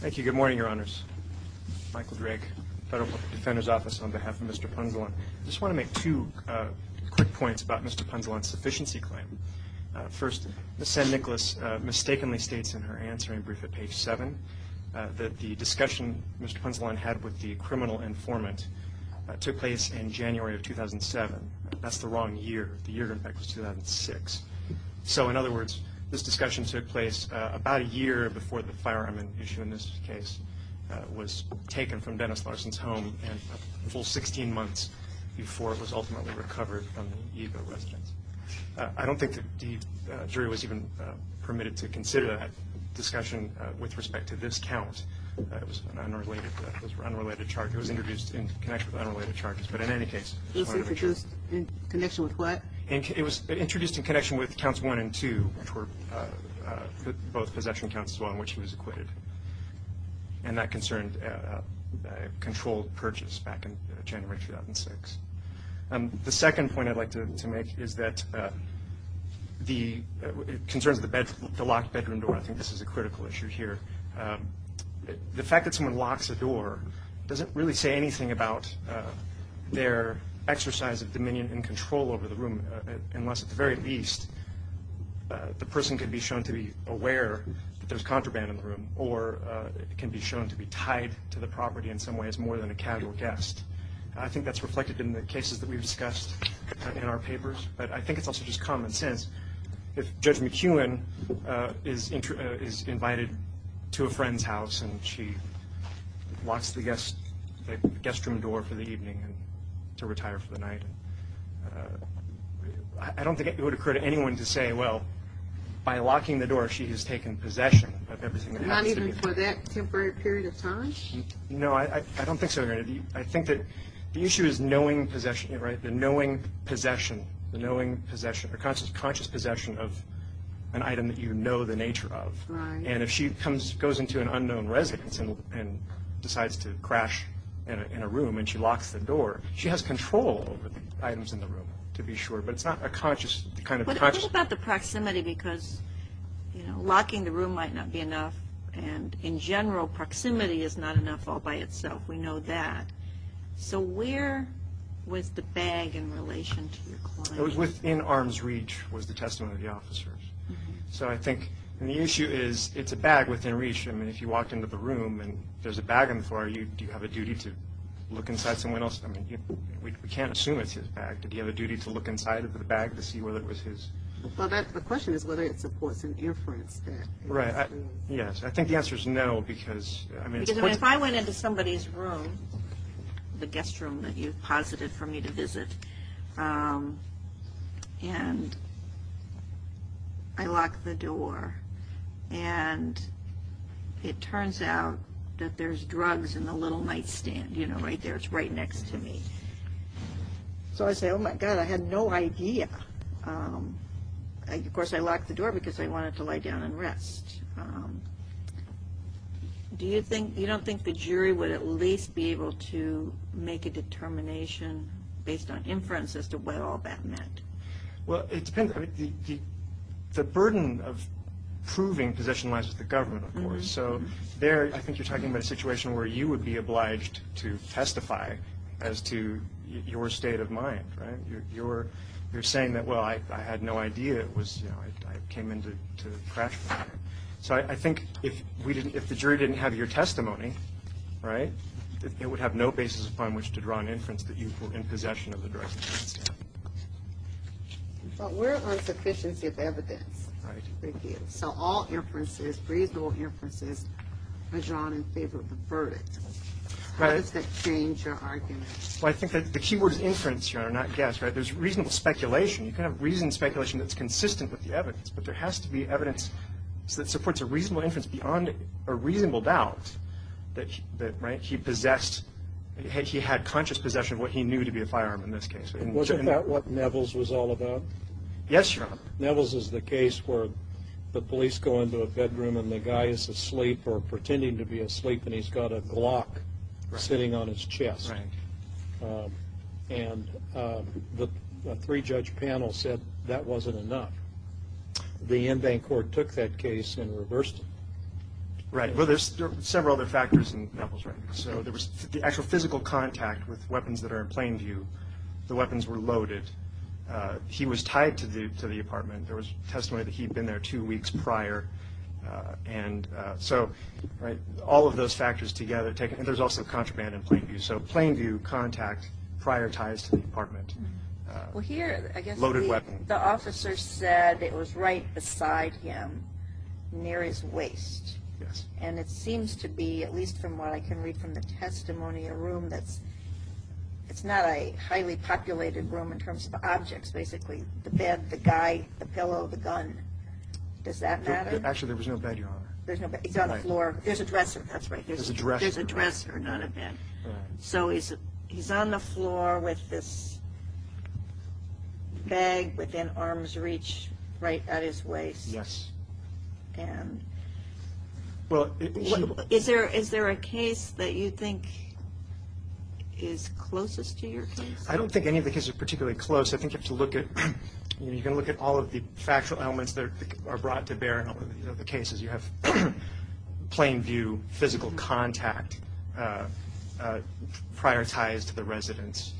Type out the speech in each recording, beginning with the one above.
Thank you. Good morning, Your Honors. Michael Drake, Federal Defender's Office, on behalf of Mr. Punzalan. I just want to make two quick points about Mr. Punzalan's sufficiency claim. First, Ms. San Nicolas mistakenly states in her answering brief at page 7 that the discussion Mr. Punzalan had with the criminal informant took place in January of 2007. That's the wrong year. The year of impact was 2006. So, in other words, this discussion took place about a year before the firearm issue in this case was taken from Dennis Larson's home and a full 16 months before it was ultimately recovered from the IGA residence. I don't think the jury was even permitted to consider that discussion with respect to this count. It was an unrelated charge. It was introduced in connection with unrelated charges. But in any case, it's part of a charge. In connection with what? It was introduced in connection with counts 1 and 2, which were both possession counts on which he was acquitted. And that concerned controlled purchase back in January 2006. The second point I'd like to make is that it concerns the locked bedroom door. I think this is a critical issue here. The fact that someone locks a door doesn't really say anything about their exercise of dominion and control over the room unless at the very least the person can be shown to be aware that there's contraband in the room or can be shown to be tied to the property in some ways more than a casual guest. I think that's reflected in the cases that we've discussed in our papers. But I think it's also just common sense. If Judge McEwen is invited to a friend's house and she locks the guest room door for the evening to retire for the night, I don't think it would occur to anyone to say, well, by locking the door she has taken possession of everything that happens to be there. Not even for that temporary period of time? No, I don't think so, Your Honor. I think that the issue is knowing possession, right, the knowing possession, the knowing possession or conscious possession of an item that you know the nature of. Right. And if she goes into an unknown residence and decides to crash in a room and she locks the door, she has control over the items in the room to be sure. But it's not a conscious, kind of conscious. What about the proximity because locking the room might not be enough, and in general proximity is not enough all by itself. We know that. So where was the bag in relation to your client? It was within arm's reach was the testimony of the officers. So I think the issue is it's a bag within reach. I mean, if you walked into the room and there's a bag on the floor, do you have a duty to look inside someone else's? I mean, we can't assume it's his bag. Do you have a duty to look inside of the bag to see whether it was his? Well, the question is whether it supports an inference that it was his. Yes. I think the answer is no because, I mean, it's pointless. Because if I went into somebody's room, the guest room that you posited for me to visit, and I lock the door and it turns out that there's drugs in the little nightstand, you know, right there. It's right next to me. So I say, oh, my God, I had no idea. Of course, I locked the door because I wanted to lie down and rest. Do you think you don't think the jury would at least be able to make a determination based on inference as to what all that meant? Well, it depends. I mean, the burden of proving possession lies with the government, of course. So there I think you're talking about a situation where you would be obliged to testify as to your state of mind, right? You're saying that, well, I had no idea. It was, you know, I came in to crash the matter. So I think if the jury didn't have your testimony, right, it would have no basis upon which to draw an inference that you were in possession of the drugs in the nightstand. But we're on sufficiency of evidence. Right. Thank you. So all inferences, reasonable inferences, was drawn in favor of the verdict. Right. How does that change your argument? Well, I think the key word is inference, Your Honor, not guess, right? There's reasonable speculation. You can have reasoned speculation that's consistent with the evidence, but there has to be evidence that supports a reasonable inference beyond a reasonable doubt that, right, he possessed. He had conscious possession of what he knew to be a firearm in this case. And wasn't that what Nevels was all about? Yes, Your Honor. Nevels is the case where the police go into a bedroom and the guy is asleep or pretending to be asleep and he's got a Glock sitting on his chest. Right. And the three-judge panel said that wasn't enough. The in-bank court took that case and reversed it. Right. Well, there's several other factors in Nevels, right? So there was the actual physical contact with weapons that are in plain view. The weapons were loaded. He was tied to the apartment. There was testimony that he had been there two weeks prior. And so, right, all of those factors together. And there's also contraband in plain view. So plain view, contact, prior ties to the apartment. Well, here I guess the officer said it was right beside him near his waist. Yes. And it seems to be, at least from what I can read from the testimony, a room that's not a highly populated room in terms of objects, basically. The bed, the guy, the pillow, the gun. Does that matter? Actually, there was no bed, Your Honor. There's no bed. He's on the floor. There's a dresser, that's right. There's a dresser. There's a dresser, not a bed. Right. So he's on the floor with this bag within arm's reach right at his waist. Yes. And is there a case that you think is closest to your case? I don't think any of the cases are particularly close. I think you have to look at all of the factual elements that are brought to bear in the cases. You have plain view, physical contact, prior ties to the residence.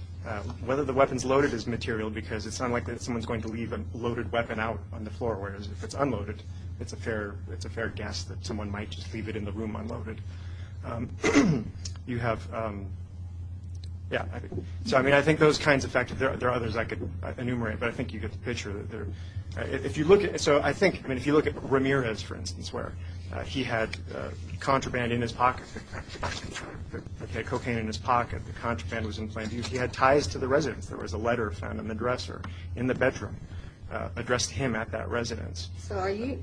Whether the weapon's loaded is material, because it's unlikely that someone's going to leave a loaded weapon out on the floor, whereas if it's unloaded, it's a fair guess that someone might just leave it in the room unloaded. You have – yeah. So, I mean, I think those kinds of – there are others I could enumerate, but I think you get the picture. If you look at – so I think – I mean, if you look at Ramirez, for instance, where he had contraband in his pocket, cocaine in his pocket, the contraband was in plain view. He had ties to the residence. There was a letter found in the dresser in the bedroom addressed to him at that residence. So are you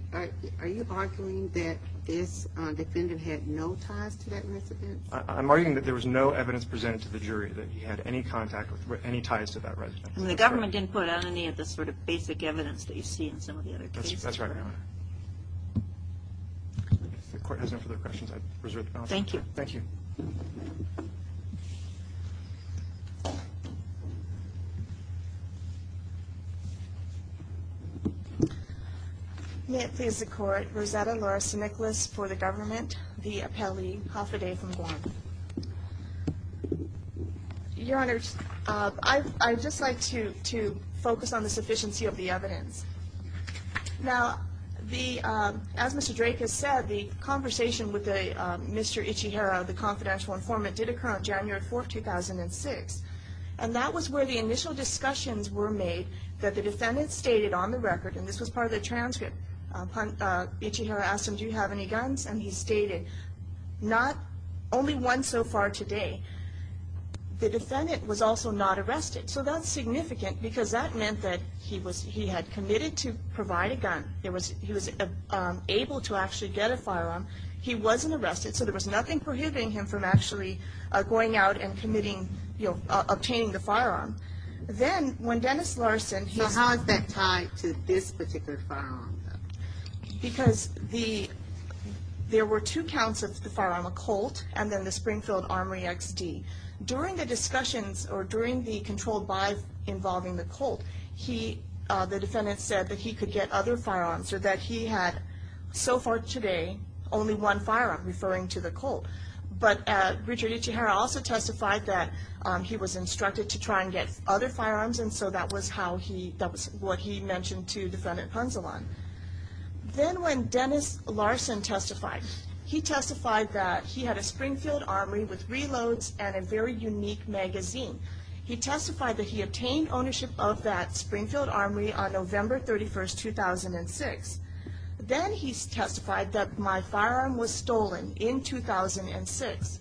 arguing that this defendant had no ties to that residence? I'm arguing that there was no evidence presented to the jury that he had any ties to that residence. And the government didn't put out any of the sort of basic evidence that you see in some of the other cases? That's right, Your Honor. If the court has no further questions, I'd reserve the balance. Thank you. Thank you. May it please the Court, Rosetta Larson-Nicholas for the government, the appellee, Haffaday from Guam. Your Honor, I'd just like to focus on the sufficiency of the evidence. Now, the – as Mr. Drake has said, the conversation with Mr. Ichihara, the confidential informant, did occur on January 4th, 2006. And that was where the initial discussions were made that the defendant stated on the record, and this was part of the transcript, Ichihara asked him, do you have any guns? And he stated, not – only one so far today. The defendant was also not arrested. So that's significant because that meant that he had committed to provide a gun. He was able to actually get a firearm. He wasn't arrested, so there was nothing prohibiting him from actually going out and committing – you know, obtaining the firearm. Then, when Dennis Larson – So how is that tied to this particular firearm, though? Because the – there were two counts of the firearm, a Colt and then the Springfield Armory XD. During the discussions or during the controlled by involving the Colt, he – the defendant said that he could get other firearms or that he had, so far today, only one firearm, referring to the Colt. But Richard Ichihara also testified that he was instructed to try and get other firearms, and so that was how he – that was what he mentioned to Defendant Ponzalan. Then when Dennis Larson testified, he testified that he had a Springfield Armory with reloads and a very unique magazine. He testified that he obtained ownership of that Springfield Armory on November 31, 2006. Then he testified that my firearm was stolen in 2006.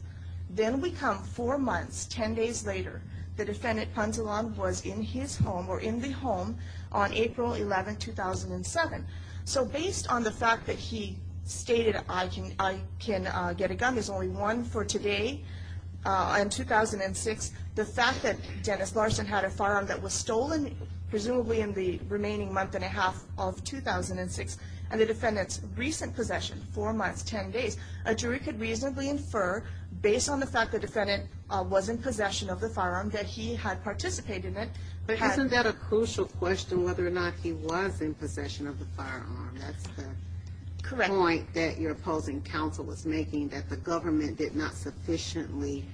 Then we come four months, ten days later, the Defendant Ponzalan was in his home or in the home on April 11, 2007. So based on the fact that he stated, I can get a gun, there's only one for today, in 2006, the fact that Dennis Larson had a firearm that was stolen, presumably in the remaining month and a half of 2006, and the Defendant's recent possession, four months, ten days, a jury could reasonably infer, based on the fact that the Defendant was in possession of the firearm, that he had participated in it. But isn't that a crucial question, whether or not he was in possession of the firearm? That's the point that your opposing counsel was making, that the government did not sufficiently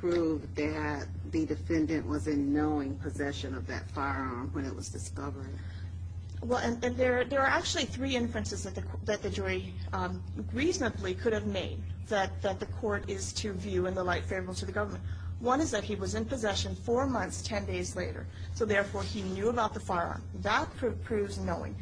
prove that the Defendant was in knowing possession of that firearm when it was discovered. Well, and there are actually three inferences that the jury reasonably could have made that the court is to view in the light favorable to the government. One is that he was in possession four months, ten days later, so therefore he knew about the firearm. That proves knowing.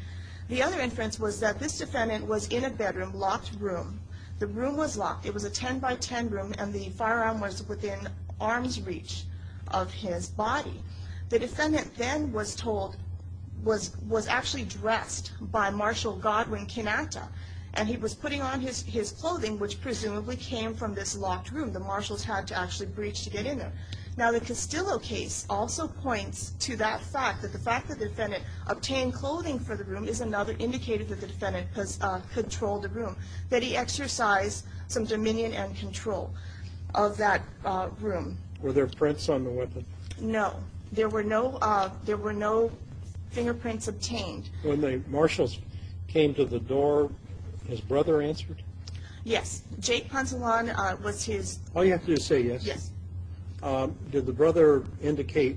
The other inference was that this Defendant was in a bedroom, locked room. The room was locked. It was a ten-by-ten room, and the firearm was within arm's reach of his body. The Defendant then was told, was actually dressed by Marshal Godwin Canatta, and he was putting on his clothing, which presumably came from this locked room. The Marshals had to actually breach to get in there. Now, the Castillo case also points to that fact, that the fact that the Defendant obtained clothing for the room is another indicator that the Defendant controlled the room, that he exercised some dominion and control of that room. Were there prints on the weapon? No. There were no fingerprints obtained. When the Marshals came to the door, his brother answered? Yes. Jake Poncelon was his... All you have to do is say yes. Yes. Did the brother indicate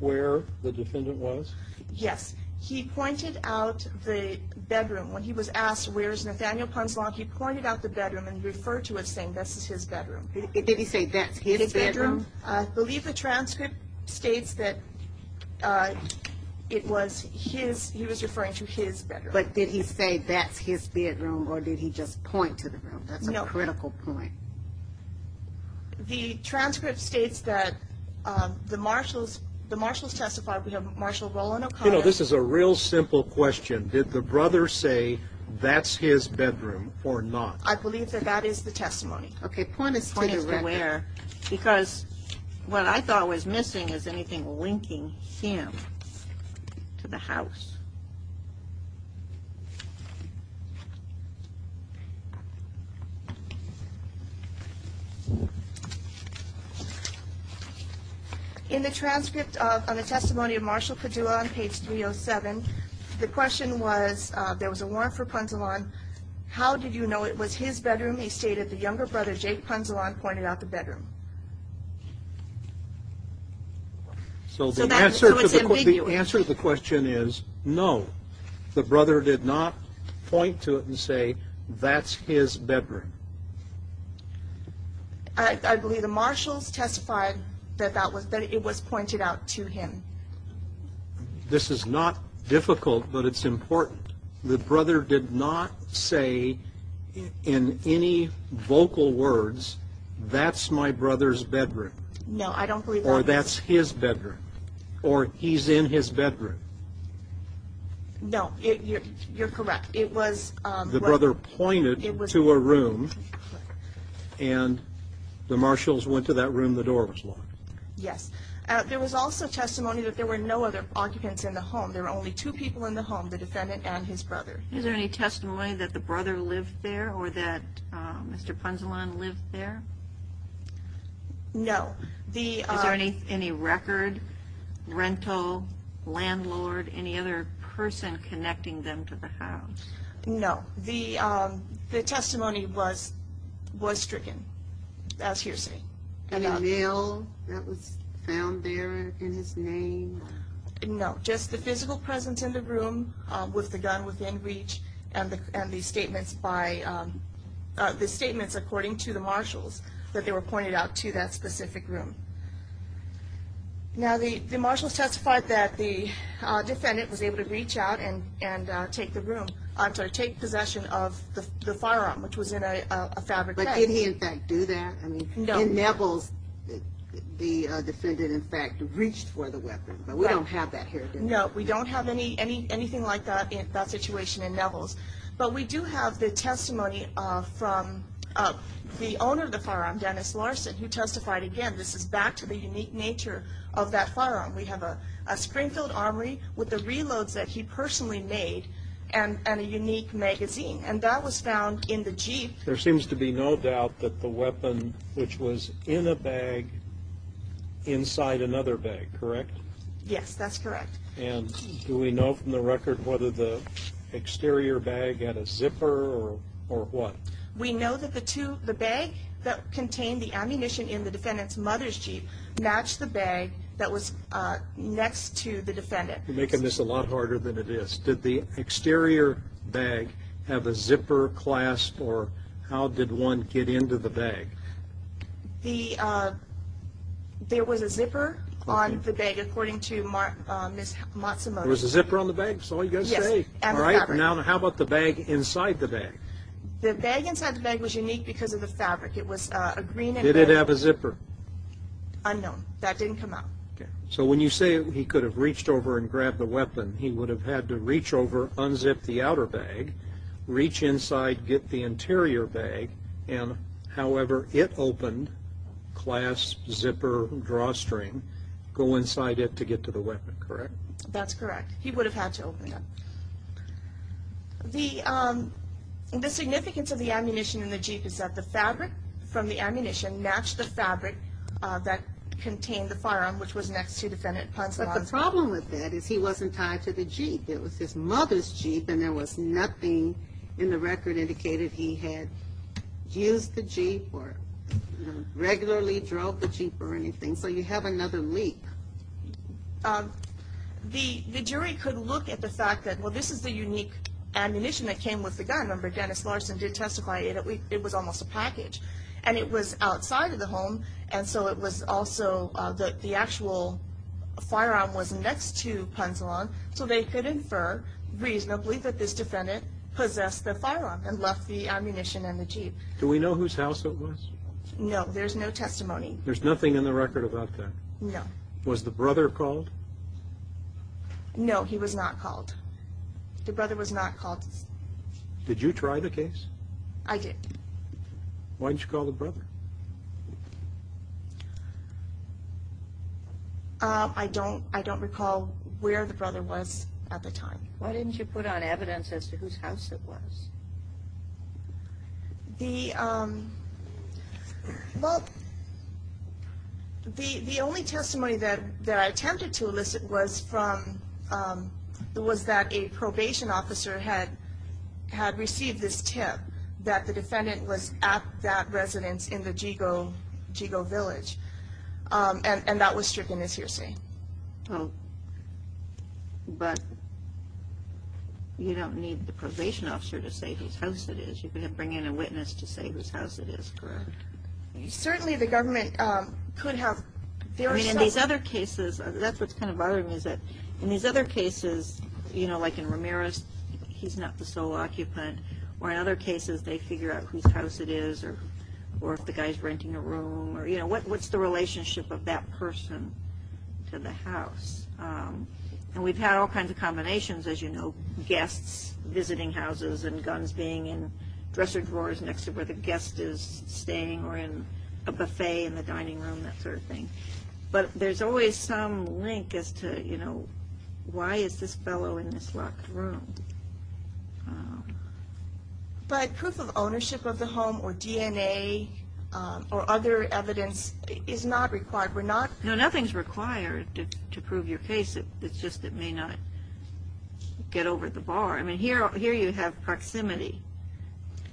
where the Defendant was? Yes. He pointed out the bedroom. When he was asked, where is Nathaniel Poncelon, he pointed out the bedroom and referred to it, saying, this is his bedroom. Did he say, that's his bedroom? I believe the transcript states that he was referring to his bedroom. But did he say, that's his bedroom, or did he just point to the room? That's a critical point. No. The transcript states that the Marshals testified. We have Marshal Roland O'Connor. You know, this is a real simple question. Did the brother say, that's his bedroom, or not? I believe that that is the testimony. Okay. Point is taken. Point is where, because what I thought was missing is anything linking him to the house. In the transcript on the testimony of Marshal Padua on page 307, the question was, there was a warrant for Poncelon. How did you know it was his bedroom? He stated, the younger brother, Jake Poncelon, pointed out the bedroom. So the answer to the question is, no. The brother did not point to it and say, that's his bedroom. I believe the Marshals testified that it was pointed out to him. This is not difficult, but it's important. The brother did not say in any vocal words, that's my brother's bedroom. No, I don't believe that. Or that's his bedroom, or he's in his bedroom. No, you're correct. The brother pointed to a room, and the Marshals went to that room, the door was locked. Yes. There was also testimony that there were no other occupants in the home. There were only two people in the home, the defendant and his brother. Is there any testimony that the brother lived there, or that Mr. Poncelon lived there? No. Is there any record, rental, landlord, any other person connecting them to the house? No. The testimony was stricken, as hearsay. Any mail that was found there in his name? No, just the physical presence in the room, with the gun within reach, and the statements according to the Marshals, that they were pointed out to that specific room. Now, the Marshals testified that the defendant was able to reach out and take possession of the firearm, which was in a fabric bag. But did he, in fact, do that? No. In Neville's, the defendant, in fact, reached for the weapon, but we don't have that here, do we? No, we don't have anything like that situation in Neville's. But we do have the testimony from the owner of the firearm, Dennis Larson, who testified again. This is back to the unique nature of that firearm. We have a spring-filled armory with the reloads that he personally made, and a unique magazine. And that was found in the Jeep. There seems to be no doubt that the weapon, which was in a bag, inside another bag, correct? Yes, that's correct. And do we know from the record whether the exterior bag had a zipper or what? We know that the bag that contained the ammunition in the defendant's mother's Jeep matched the bag that was next to the defendant. You're making this a lot harder than it is. Did the exterior bag have a zipper clasp, or how did one get into the bag? There was a zipper on the bag, according to Ms. Matsumoto. There was a zipper on the bag, that's all you've got to say. Yes, and the fabric. Now how about the bag inside the bag? The bag inside the bag was unique because of the fabric. Did it have a zipper? Unknown. That didn't come out. So when you say he could have reached over and grabbed the weapon, he would have had to reach over, unzip the outer bag, reach inside, get the interior bag, and however it opened, clasp, zipper, drawstring, go inside it to get to the weapon, correct? That's correct. He would have had to open it. The significance of the ammunition in the Jeep is that the fabric from the ammunition matched the fabric that contained the firearm, which was next to the defendant. But the problem with that is he wasn't tied to the Jeep. It was his mother's Jeep, and there was nothing in the record indicating he had used the Jeep or regularly drove the Jeep or anything. So you have another leak. The jury could look at the fact that, well, this is the unique ammunition that came with the gun. Remember, Dennis Larson did testify that it was almost a package, and it was outside of the home, and so it was also that the actual firearm was next to Ponzalon, so they could infer reasonably that this defendant possessed the firearm and left the ammunition in the Jeep. Do we know whose house it was? No, there's no testimony. There's nothing in the record about that? No. Was the brother called? No, he was not called. The brother was not called. Did you try the case? I did. Why didn't you call the brother? I don't recall where the brother was at the time. Why didn't you put on evidence as to whose house it was? Well, the only testimony that I attempted to elicit was that a probation officer had received this tip that the defendant was at that residence in the Jigo Village, and that was stricken as hearsay. Oh, but you don't need the probation officer to say whose house it is. You can bring in a witness to say whose house it is, correct? Certainly, the government could have. I mean, in these other cases, that's what's kind of bothering me, is that in these other cases, you know, like in Ramirez, he's not the sole occupant, or in other cases, they figure out whose house it is or if the guy's renting a room, or, you know, what's the relationship of that person to the house. And we've had all kinds of combinations, as you know, guests visiting houses and guns being in dresser drawers next to where the guest is staying, or in a buffet in the dining room, that sort of thing. But there's always some link as to, you know, why is this fellow in this locked room? But proof of ownership of the home or DNA or other evidence is not required. We're not... No, nothing's required to prove your case. It's just it may not get over the bar. I mean, here you have proximity.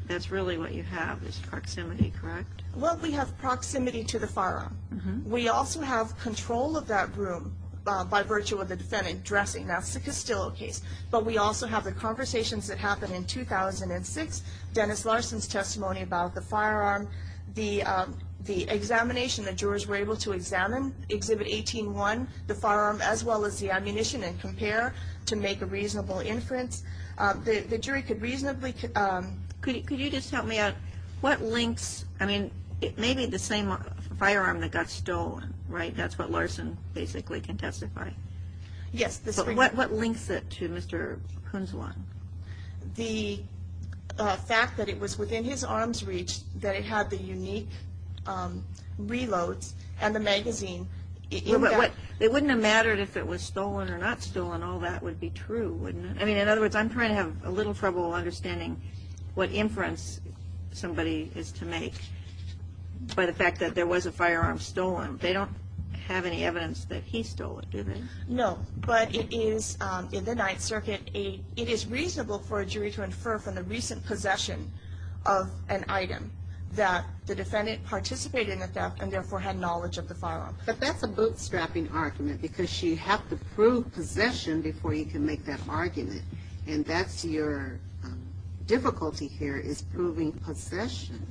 That's really what you have, is proximity, correct? Well, we have proximity to the firearm. We also have control of that room by virtue of the defendant dressing. That's the Castillo case. But we also have the conversations that happened in 2006, Dennis Larson's testimony about the firearm, the examination that jurors were able to examine, Exhibit 18-1, the firearm as well as the ammunition and compare to make a reasonable inference. The jury could reasonably... Could you just help me out? What links... I mean, it may be the same firearm that got stolen, right? That's what Larson basically can testify. Yes. But what links it to Mr. Hunzwan? The fact that it was within his arms' reach, that it had the unique reloads and the magazine. It wouldn't have mattered if it was stolen or not stolen. All that would be true, wouldn't it? I mean, in other words, I'm trying to have a little trouble understanding what inference somebody is to make by the fact that there was a firearm stolen. They don't have any evidence that he stole it, do they? No. But it is, in the Ninth Circuit, it is reasonable for a jury to infer from the recent possession of an item that the defendant participated in the theft and therefore had knowledge of the firearm. But that's a bootstrapping argument because you have to prove possession before you can make that argument. And that's your difficulty here is proving possession.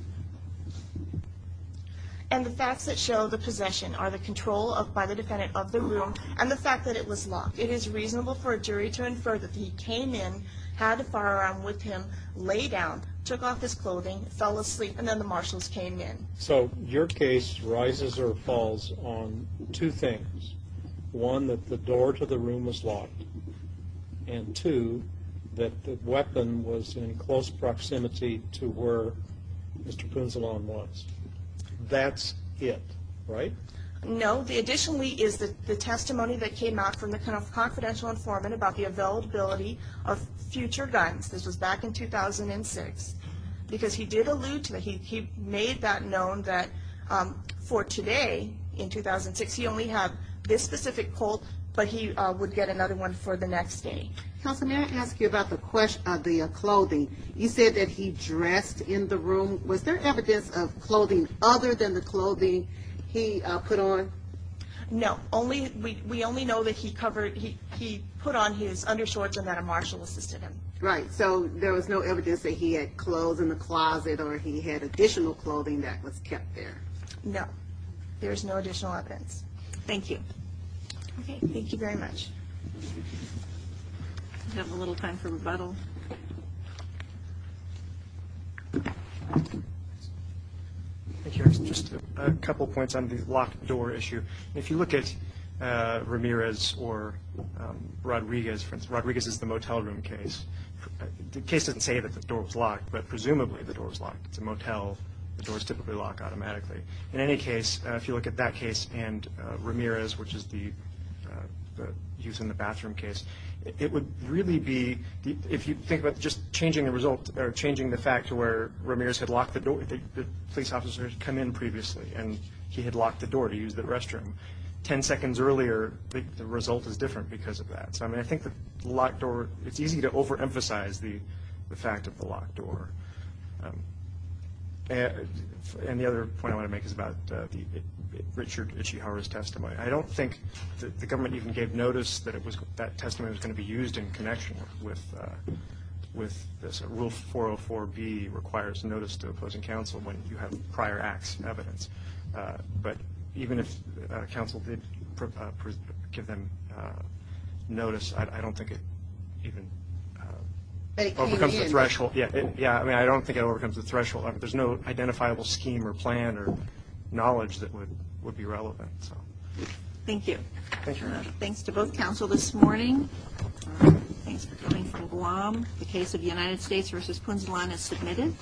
And the facts that show the possession are the control by the defendant of the room and the fact that it was locked. It is reasonable for a jury to infer that he came in, had a firearm with him, lay down, took off his clothing, fell asleep, and then the marshals came in. So your case rises or falls on two things. One, that the door to the room was locked. And two, that the weapon was in close proximity to where Mr. Poonsalon was. That's it, right? No. Additionally is the testimony that came out from the confidential informant about the availability of future guns. This was back in 2006. Because he did allude to that. He made that known that for today, in 2006, he only had this specific colt, but he would get another one for the next day. Counsel, may I ask you about the clothing? You said that he dressed in the room. Was there evidence of clothing other than the clothing he put on? No. We only know that he put on his undershorts and that a marshal assisted him. Right. So there was no evidence that he had clothes in the closet or he had additional clothing that was kept there. No. There is no additional evidence. Thank you. Okay. Thank you very much. We have a little time for rebuttal. Just a couple points on the locked door issue. If you look at Ramirez or Rodriguez, Rodriguez is the motel room case. The case doesn't say that the door was locked, but presumably the door was locked. It's a motel. The doors typically lock automatically. In any case, if you look at that case and Ramirez, which is the use in the bathroom case, it would really be, if you think about just changing the fact to where Ramirez had locked the door, the police officer had come in previously and he had locked the door to use the restroom. Ten seconds earlier, the result is different because of that. So, I mean, I think the locked door, it's easy to overemphasize the fact of the locked door. And the other point I want to make is about Richard Ichihara's testimony. I don't think the government even gave notice that that testimony was going to be used in connection with this. Rule 404B requires notice to opposing counsel when you have prior acts and evidence. But even if counsel did give them notice, I don't think it even becomes a threshold. Yeah, I mean, I don't think it overcomes the threshold. There's no identifiable scheme or plan or knowledge that would be relevant. Thank you. Thanks very much. Thanks to both counsel this morning. Thanks for coming from Guam. The case of the United States v. Punzulan is submitted.